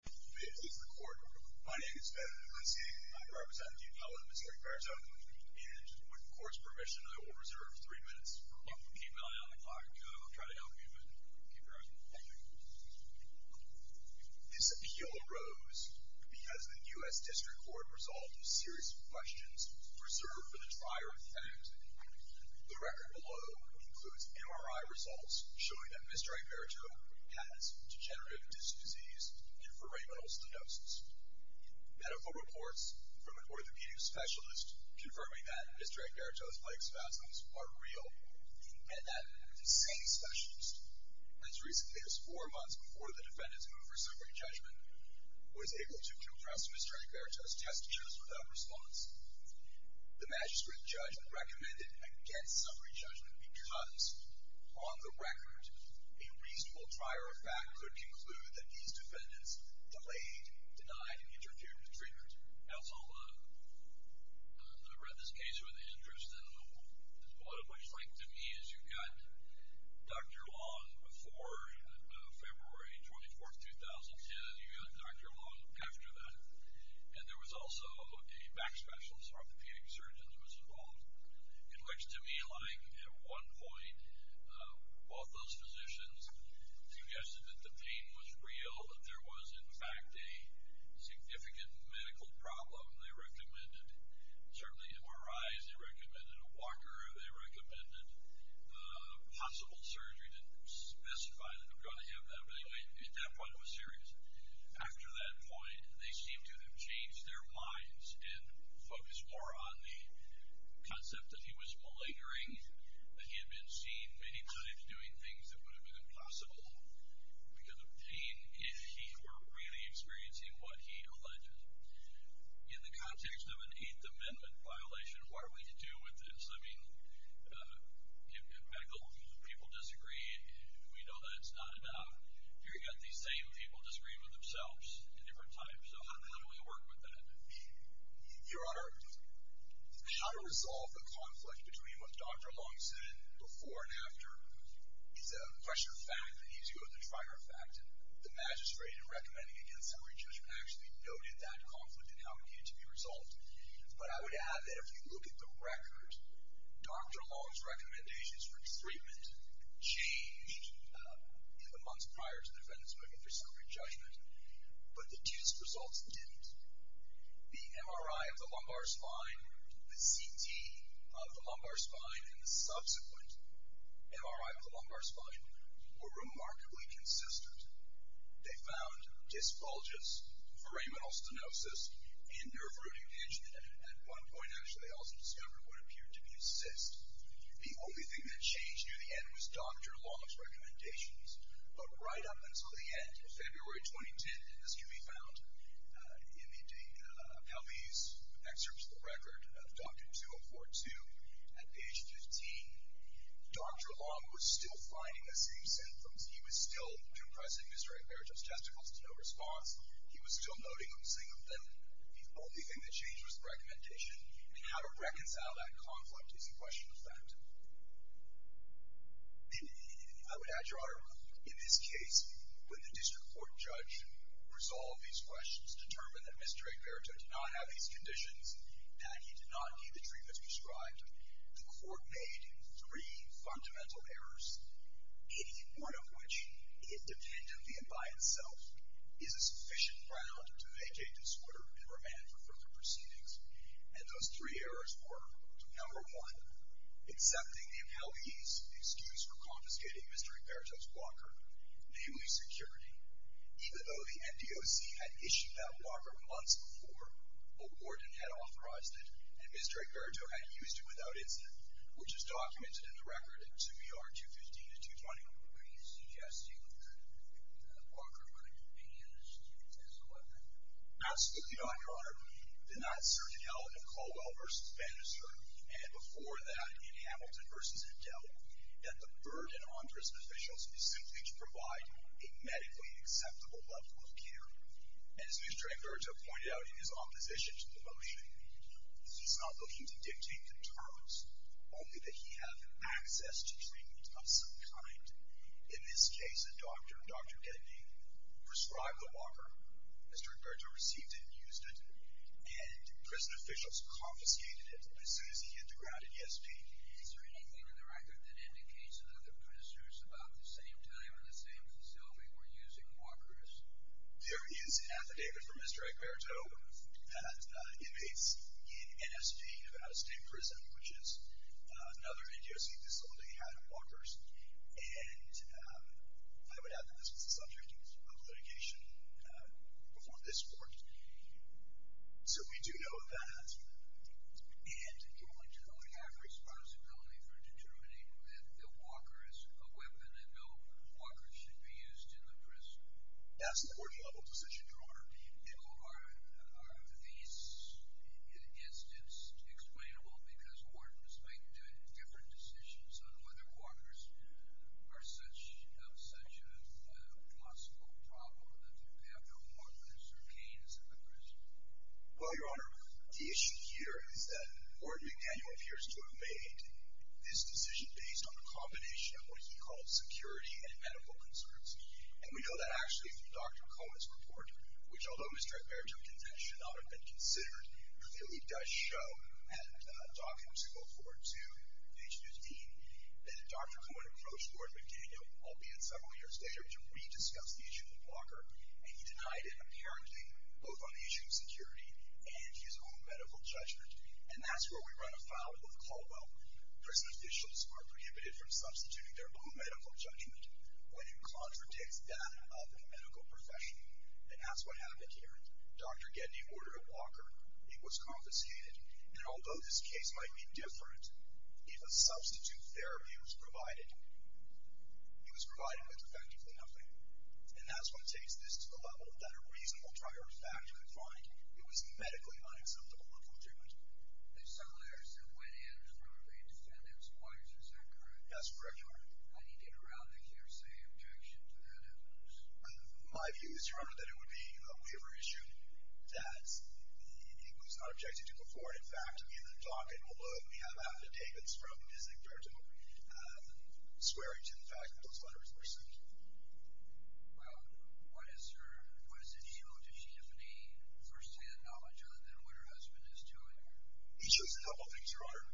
This appeal arose because the U.S. District Court resolved a series of questions reserved for the trier defendant. The record below includes MRI results showing that Mr. Egberto has degenerative disease and foramenal stenosis, medical reports from an orthopedic specialist confirming that Mr. Egberto's leg spasms are real, and that the same specialist, as recently as four months before the defendant's move for summary judgment, was able to compress Mr. Egberto's test tutors without response. The magistrate judge recommended against summary judgment because, on the record, a reasonable trier of fact could conclude that these defendants delayed, denied, and interfered with treatment. Now, it's all a little... I read this case with interest, and what it looks like to me is you've got Dr. Long before February 24th, 2010. You've got Dr. Long after that, and there was also a back specialist orthopedic surgeon who was involved, in which to me, like at one point, both those physicians suggested that the pain was real, that there was, in fact, a significant medical problem. They recommended, certainly MRIs, they recommended a walker, they recommended possible surgery to specify that I'm going to have that, but at that point, it was serious. After that point, they seemed to have changed their minds and focused more on the concept that he was malingering, that he had been seen many times doing things that would have been impossible because of pain, if he were really experiencing what he alleged. In the context of an Eighth Amendment violation, what are we to do with this? I mean, people disagree, and we know that it's not enough. You've got these same people disagreeing with themselves at different times, so how do we work with that? Your Honor, how to resolve the conflict between what Dr. Long said before and after is a pressure fact that leaves you with a trigger fact, and the magistrate recommending against every judge actually noted that conflict and how it needed to be resolved. But I would add that if you look at the record, Dr. Long's recommendations for treatment changed in the months prior to the defendant's moving through circuit judgment, but the test results didn't. The MRI of the lumbar spine, the CT of the lumbar spine, and the subsequent MRI of the lumbar spine were remarkably consistent. They found disc bulges, foramenal stenosis, and nerve rooting damage, and at one point, actually, they also discovered what appeared to be a cyst. The only thing that changed near the end was Dr. Long's recommendations, but right up until the end of February 2010, as can be found in the Pelvey's excerpt to the record of Dr. 2042, at age 15, Dr. Long was still finding the same symptoms. He was still depressing his right parietal testicles to no response. He was still noting them, seeing them, and the only thing that changed was the recommendation, and how to reconcile that conflict is a question of fact. I would add, Your Honor, in this case, when the district court judge resolved these questions, determined that Mr. Imperative did not have these conditions, and he did not need the treatment prescribed, the court made three fundamental errors, any one of which, independently and by itself, is a sufficient ground to make a disorder and remand for further proceedings, and those three errors were, number one, accepting the Pelvey's excuse for confiscating Mr. Imperative's locker, namely security. Even though the MDOC had issued that locker months before, a warden had authorized it, and Mr. Imperative had used it without incident, which is documented in the record in 2ER 215-220. Are you suggesting that the locker could have been used as a weapon? Absolutely not, Your Honor. Did not Sgt. L. Caldwell v. Bannister, and before that, in Hamilton v. Adele, that the burden on prison officials is simply to provide a medically acceptable level of care. As Mr. Imperative pointed out in his opposition to the motion, he's not looking to dictate the terms, only that he have access to treatment of some kind. In this case, a doctor, Dr. Denby, prescribed the locker. Mr. Imperative received it and used it, and prison officials confiscated it as soon as he hit the ground in ESP. Is there anything in the record that indicates that other prisoners, about the same time and the same facility, were using lockers? There is an affidavit from Mr. Imperative that invades NSP, Nevada State Prison, which is another NKOC facility, had lockers, and I would add that this was a subject of litigation before this court. So we do know of that. And, Your Honor, do we have responsibility for determining that Bill Walker is a weapon and Bill Walker should be used in the prison? That's a 40-level position, Your Honor. Bill, are these incidents explainable because Warden is making different decisions on whether walkers are such a possible problem that we have no walkers or canes in the prison? Well, Your Honor, the issue here is that Warden McDaniel appears to have made this decision based on a combination of what he called security and medical concerns, and we know that actually from Dr. Cohen's report, which although Mr. Imperative's intent should not have been considered, clearly does show, and documents go forward to page 15, that Dr. Cohen approached Warden McDaniel, albeit several years later, to re-discuss the issue of the blocker, and he denied it, apparently, both on the issue of security and his own medical judgment. And that's where we run afoul of the Caldwell. Prison officials are prohibited from substituting their own medical judgment when it contradicts that of a medical profession, and that's what happened here. Dr. Gedney ordered a blocker. It was compensated, and although this case might be different, if a substitute therapy was provided, it was provided with effectively nothing. And that's what takes this to the level that a reasonable prior fact could find. It was medically unacceptable local judgment. There's some letters that went in from a defendant's wife, is that correct? That's correct, Your Honor. I need to get around the hearsay objection to that evidence. My view is, Your Honor, that it would be a waiver issue, that it was not objected to before, and in fact, in the docket, we'll look, we have affidavits from Ms. Imperative swearing to the fact that those letters were sent to you. Well, what is her, what does it show? Does she have any first-hand knowledge of it than what her husband is doing? It shows a couple things, Your Honor.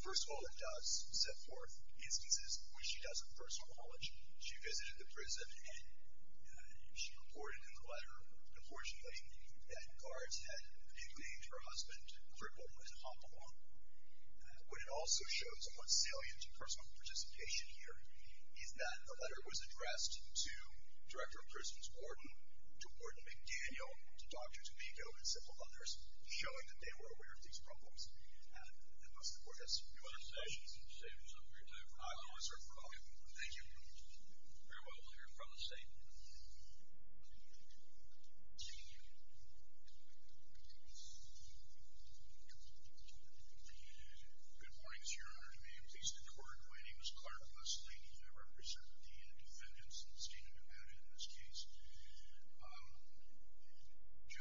First of all, it does set forth instances when she doesn't have first-hand knowledge. She visited the prison, and she reported in the letter, unfortunately, that guards had manipulated her husband to cripple him and hop him off. What it also shows, and what's salient to personal participation here, is that the letter was addressed to Director of Prisons Gordon, to Gordon McDaniel, to Dr. Tomiko, and several other people. Your Honor,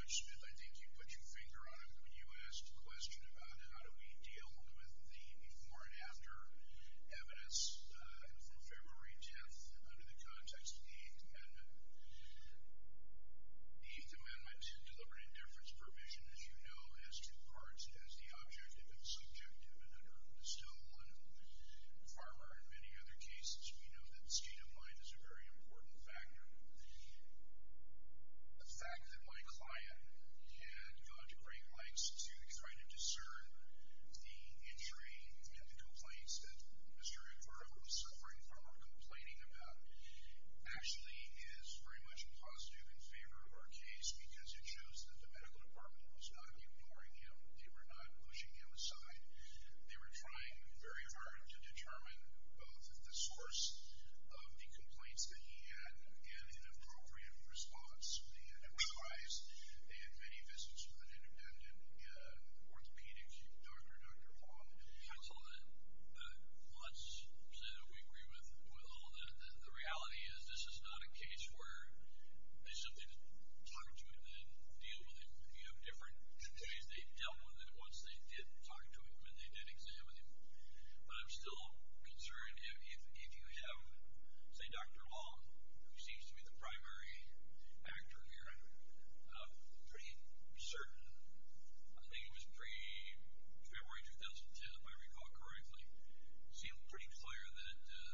I think you put your finger on it when you asked the question about how do we deal with the before and after evidence from February 10th under the context of the Eighth Amendment. The Eighth Amendment, deliberate indifference provision, as you know, has two parts. It has the objective and subjective, and under the Stonewall and Farmer and many other cases, we know that state of mind is a very important factor. The fact that my client had gone to great lengths to try to discern the injury and the complaints that Mr. Rivera was suffering from or complaining about actually is very much positive in favor of our case, because it shows that the medical department was not ignoring him. They were not pushing him aside. They were trying very hard to determine both the source of the complaints that he had and an appropriate response. And likewise, they had many visits with an independent orthopedic doctor, Dr. Wong. Counsel, let's say that we agree with Will. The reality is this is not a case where they simply didn't talk to him and didn't deal with him. You have different ways they've dealt with him, once they did talk to him and they did examine him. But I'm still concerned if you have, say, Dr. Wong, who seems to be the primary actor here, pretty certain, I think it was pre-February 2010, if I recall correctly, seemed pretty clear that the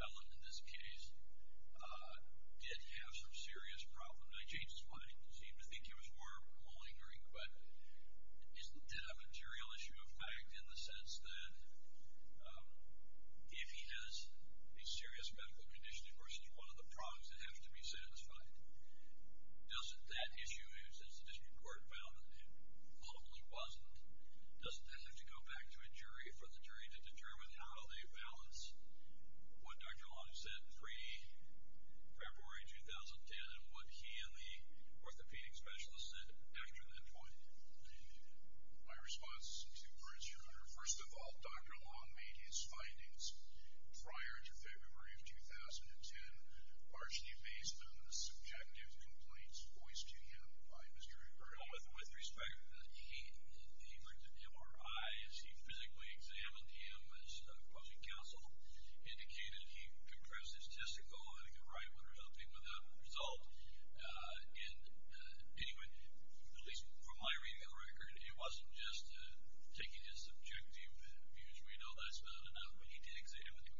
felon in this case did have some serious problems. And I changed his mind. He seemed to think he was more of a malingering, but is that a material issue of fact in the sense that if he has a serious medical condition versus one of the problems that have to be satisfied, doesn't that issue, as the district court found that it probably wasn't, doesn't that have to go back to a jury for the jury to determine how they balance what Dr. Wong said pre-February 2010 and what he and the orthopedic specialist said after that point? My response to Bruce Schroeder, first of all, Dr. Wong made his findings prior to February of 2010 largely based on the subjective complaints voiced to him by Mr. Schroeder. With respect, he printed MRIs, he physically examined him as a closing counsel, indicated he compressed his testicle, had a good right one resulting in that result, and anyway, at least from my reading of the record, it wasn't just taking his subjective views. We know that's not enough, but he did examine him.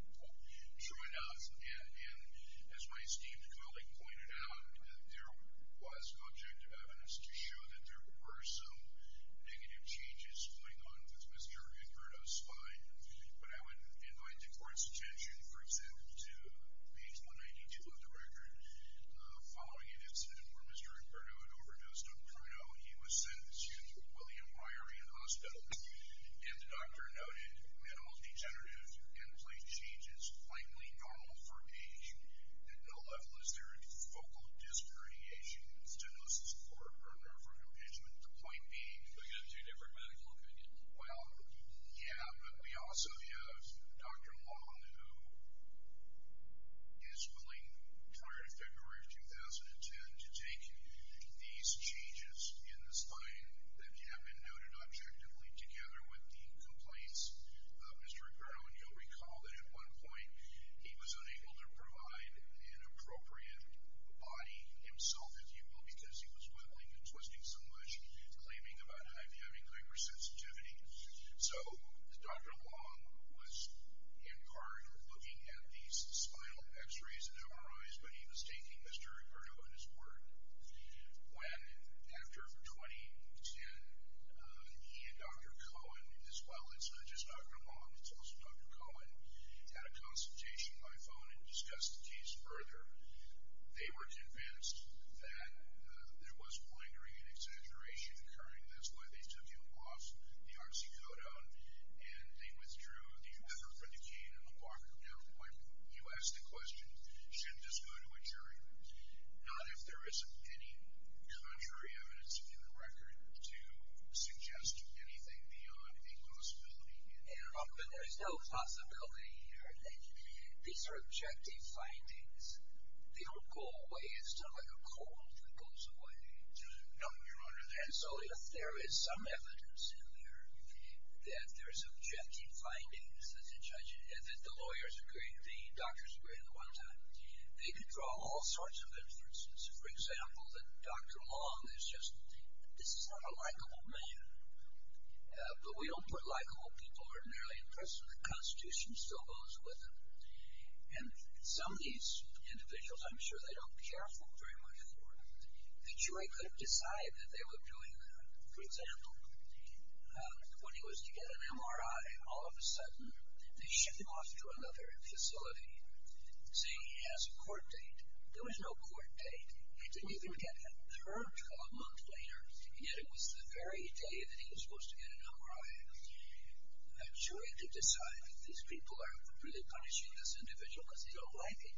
Sure enough, and as my esteemed colleague pointed out, there was objective evidence to show that there were some negative changes going on with Mr. Schroeder's spine, but I would invite the court's attention, for example, to page 192 of the record, following an incident where Mr. Imperdo had overdosed on Pruno, he was sent to William Ryeryan Hospital, and the doctor noted that all degenerative end-plate changes, plainly normal for aging, at no level is there a focal disc herniation, stenosis, or a burn or a frontal impingement, the point being... But he had two different medical opinions. Well, yeah, but we also have Dr. Long, who is willing, prior to February of 2010, to take these changes in the spine that have been noted objectively, together with the complaints of Mr. Imperdo, and you'll recall that at one point, he was unable to provide an appropriate body himself, as you will, because he was sweating and twisting so much, claiming about having hypersensitivity, so Dr. Long was in part looking at these spinal x-rays and MRIs, but he was taking Mr. Imperdo at his word, when after 2010, he and Dr. Cohen, his father, it's not just Dr. Long, it's also Dr. Cohen, had a consultation by phone and discussed the case further. They were convinced that there was poindering and exaggeration occurring, that's why they took him off the oxycodone, and they withdrew the effort for decaying in a lumbar canal. When you ask the question, should this go to a jury, not if there isn't any contrary evidence in the record to suggest anything beyond a possibility. But there's no possibility here, these are objective findings, they don't go away, it's not like a cold that goes away, and so if there is some evidence in there, that there's objective findings, that the lawyers agree, the doctors agree at one time, they can draw all sorts of inferences, for example, that Dr. Long is just, this is not a likable man, but we don't put likable people ordinarily in prison, the constitution still goes with them, and some of these individuals, I'm sure they don't care very much for, the jury could have decided that they were doing, for example, when he was to get an MRI, all of a sudden, they shipped him off to another facility, saying he has a court date, there was no court date, he didn't even get hurt a month later, and yet it was the very day that he was supposed to get an MRI, I'm sure they could decide that these people are really punishing this individual because they don't like it,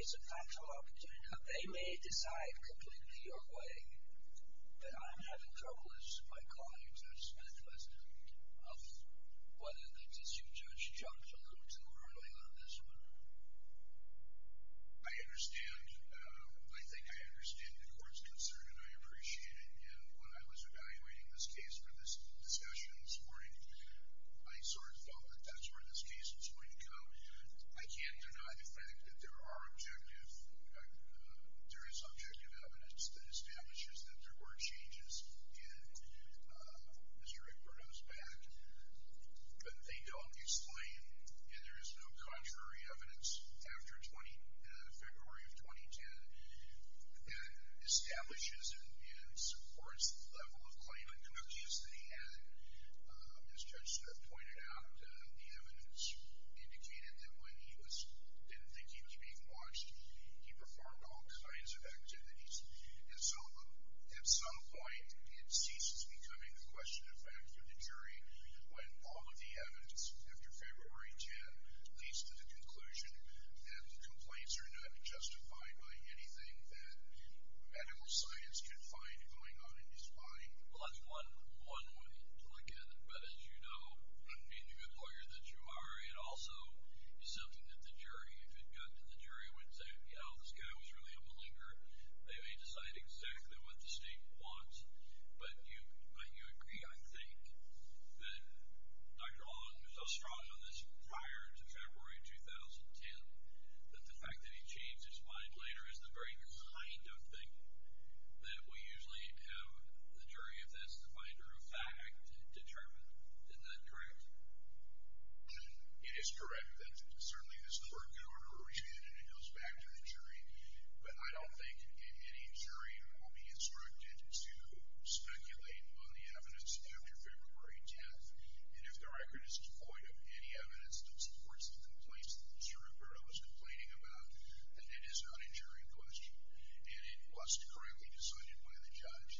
it's a factual opportunity, now they may decide completely your way, but I'm having trouble as my colleague Judge Smith was, of whether the tissue judge jumped a little too early on this one, I understand the court's concern and I appreciate it, and when I was evaluating this case for this discussion this morning, I sort of felt that that's where this case was going to go, I can't deny the fact that there are objective, there is objective evidence that establishes that there were changes in Mr. Aguero's back, but they don't explain, and there is no contrary evidence after February of 2010, that establishes and supports the level of claimant cookies that he had, as Judge Smith pointed out, the evidence indicated that when he was, didn't think he'd be being watched, he performed all kinds of activities, and so at some point it ceases becoming a question of fact or the jury, when all of the evidence after February of 2010 leads to the conclusion that the complaints are not justified by anything that medical science could find going on in his body. Well that's one way to look at it, but as you know, being the good lawyer that you are, it also is something that the jury, if it got to the jury, would say, you know, this guy was really a malinger, they may decide exactly what the state wants, but you agree, I think, that Dr. O'Loughlin was so strong on this prior to February of 2010, that the fact that he changed his mind later is the very kind of thing that will usually have the jury, if that's the finder of fact, determine. Isn't that correct? It is correct that certainly this court could order a re-trial and it goes back to the jury, but I don't think any jury will be instructed to speculate on the evidence after February 10th, and if the record is devoid of any evidence that supports the complaints that Mr. Roberto was complaining about, then it is not a jury question, and it was correctly decided by the judge,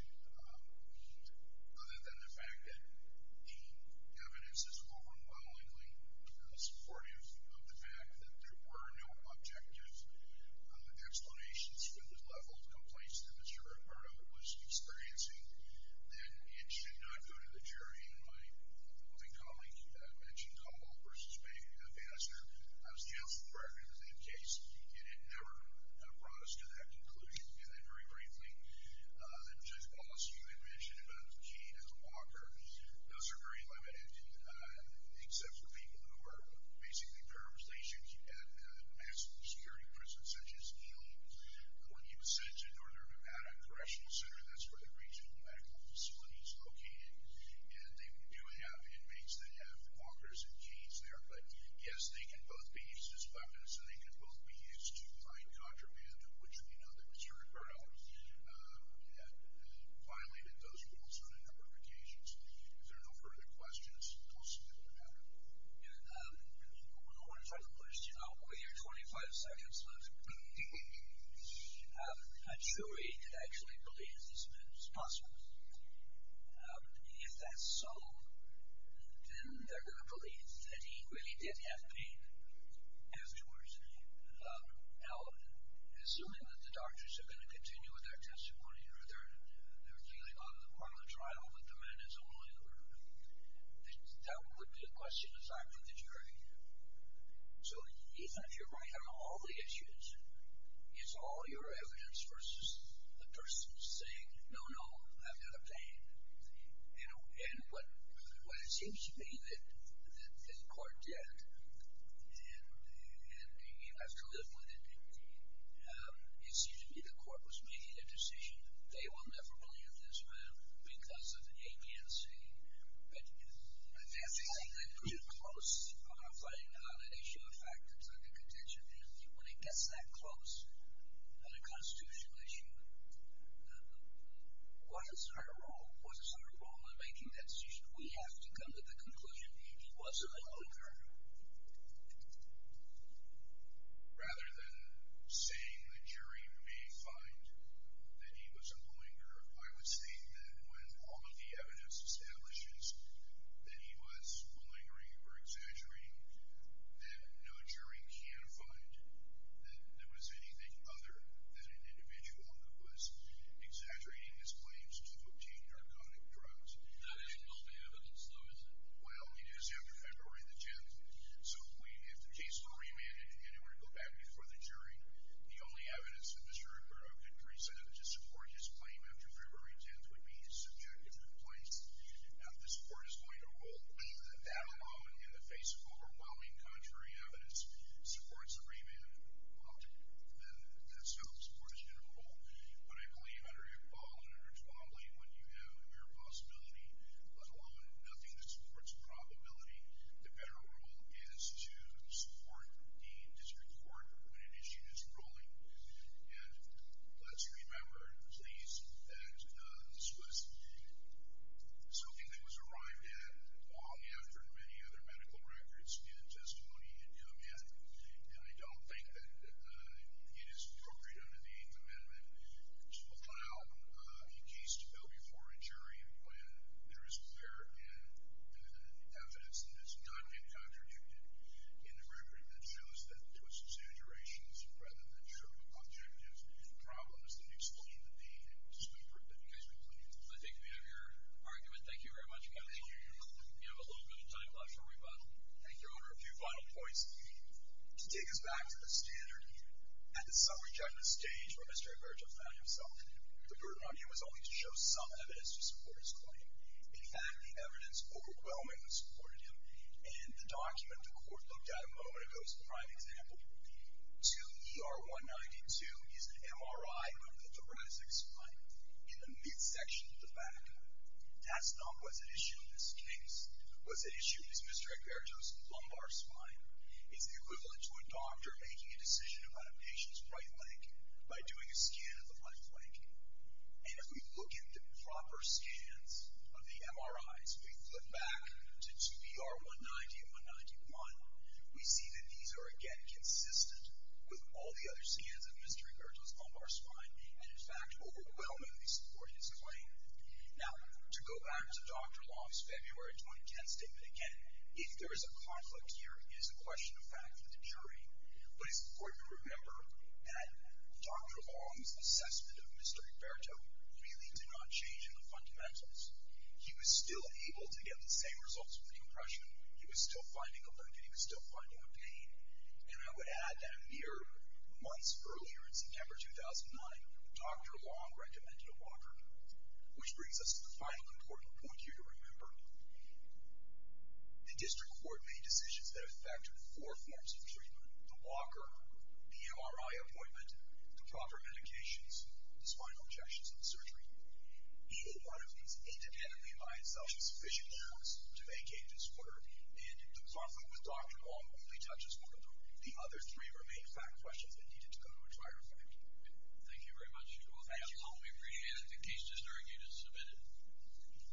other than the fact that the evidence is overwhelmingly supportive of the fact that there were no objective explanations for the level of complaints that Mr. Roberto was experiencing, then it should not go to the jury, and my colleague mentioned Caldwell v. Baxter, I was the counsel for that case, and it never brought us to that conclusion. And then very briefly, Judge Wallace, you had mentioned about the cane and the walker, those are very limited, except for people who are basically paralyzed, they should keep at a domestic security prison, such as Healy, or you would send to Northern Nevada Correctional Center, that's where the regional medical facility is located, and they do have inmates that have walkers and canes there, but yes, they can both be used as weapons, and they can both be used to find contraband, which we know that Mr. Roberto had violated those on a number of occasions. If there are no further questions, we'll see what we can do. I want to try to push, you know, with your 25 seconds left, a jury could actually believe this man is possible. If that's so, then they're going to believe that he really did have pain afterwards. Now, assuming that the doctors are going to continue with their testimony, or they're going to continue on the part of the trial, that the man is only a murderer, that would be a question assigned to the jury. So, Ethan, if you're right on all the issues, it's all your evidence versus a person saying, no, no, I've got a pain. And what it seems to me that the court did, and you have to live with it, it seems to me that the court was making a decision that they will never believe this man because of APNC. But that's something that grew close on our finding on that issue of factors under contention. When it gets that close on a constitutional issue, what is our role? What is our role in making that decision? We have to come to the conclusion that he was a murderer. Rather than saying the jury may find that he was a malingerer, I would say that when all of the evidence establishes that he was malingering or exaggerating, that no jury can find that there was anything other than an individual who was exaggerating his claims to obtain narcotic drugs. That is guilty evidence, though, isn't it? Well, it is after February the 10th. So if the case were remanded and it were to go back before the jury, the only evidence that Mr. Ricardo could present to support his claim after February the 10th would be his subjective complaints. Now, if this court is going to rule that that alone, in the face of overwhelming contrary evidence, supports a remand, then that's how the court is going to rule. But I believe under Iqbal and under Twombly, when you have a mere possibility, let alone nothing that supports probability, the better rule is to support the district court when an issue is ruling. And let's remember, please, that this was something that was arrived at long after many other medical records and testimony had come in. And I don't think that it is appropriate under the Eighth Amendment to allow a case to go before a jury when there is clear evidence that has not been contradicted in the record that shows that there was exaggerations rather than true objectives and problems that explain the need and the scope of the case. I think we have your argument. Thank you very much. You have a little bit of time left for rebuttal. Thank you, Your Honor. A few final points. To take us back to the standard at the summary judgment stage where Mr. Ricardo found himself, the burden on him was only to show some evidence to support his claim. In fact, the evidence overwhelmingly supported him. And the document the court looked at a moment ago is a prime example. 2ER192 is an MRI of the thoracic spine in the midsection of the back. That's not what's at issue in this case. What's at issue is Mr. Ricardo's lumbar spine. It's the equivalent to a doctor making a decision about a patient's right leg by doing a scan of the right leg. And if we look into proper scans of the MRIs, we flip back to 2ER191, we see that these are, again, consistent with all the other scans of Mr. Ricardo's lumbar spine and, in fact, overwhelmingly support his claim. Now, to go back to Dr. Long's February 2010 statement, again, if there is a conflict here, it is a question of fact for the jury. But it's important to remember that Dr. Long's assessment of Mr. Ricardo really did not change in the fundamentals. He was still able to get the same results with the impression. He was still finding a link and he was still finding a pain. And I would add that a mere months earlier, in September 2009, Dr. Long recommended a walker, which brings us to the final important point here to remember. The district court made decisions that affected four forms of treatment. The walker, the MRI appointment, the proper medications, the spinal injections, and surgery. He made one of these independently by himself. He sufficiently chose to make a disorder. And the conflict with Dr. Long really touches one of the other three remaining fact questions that needed to go to a jury. Thank you very much. We appreciate it. The case just argued is submitted.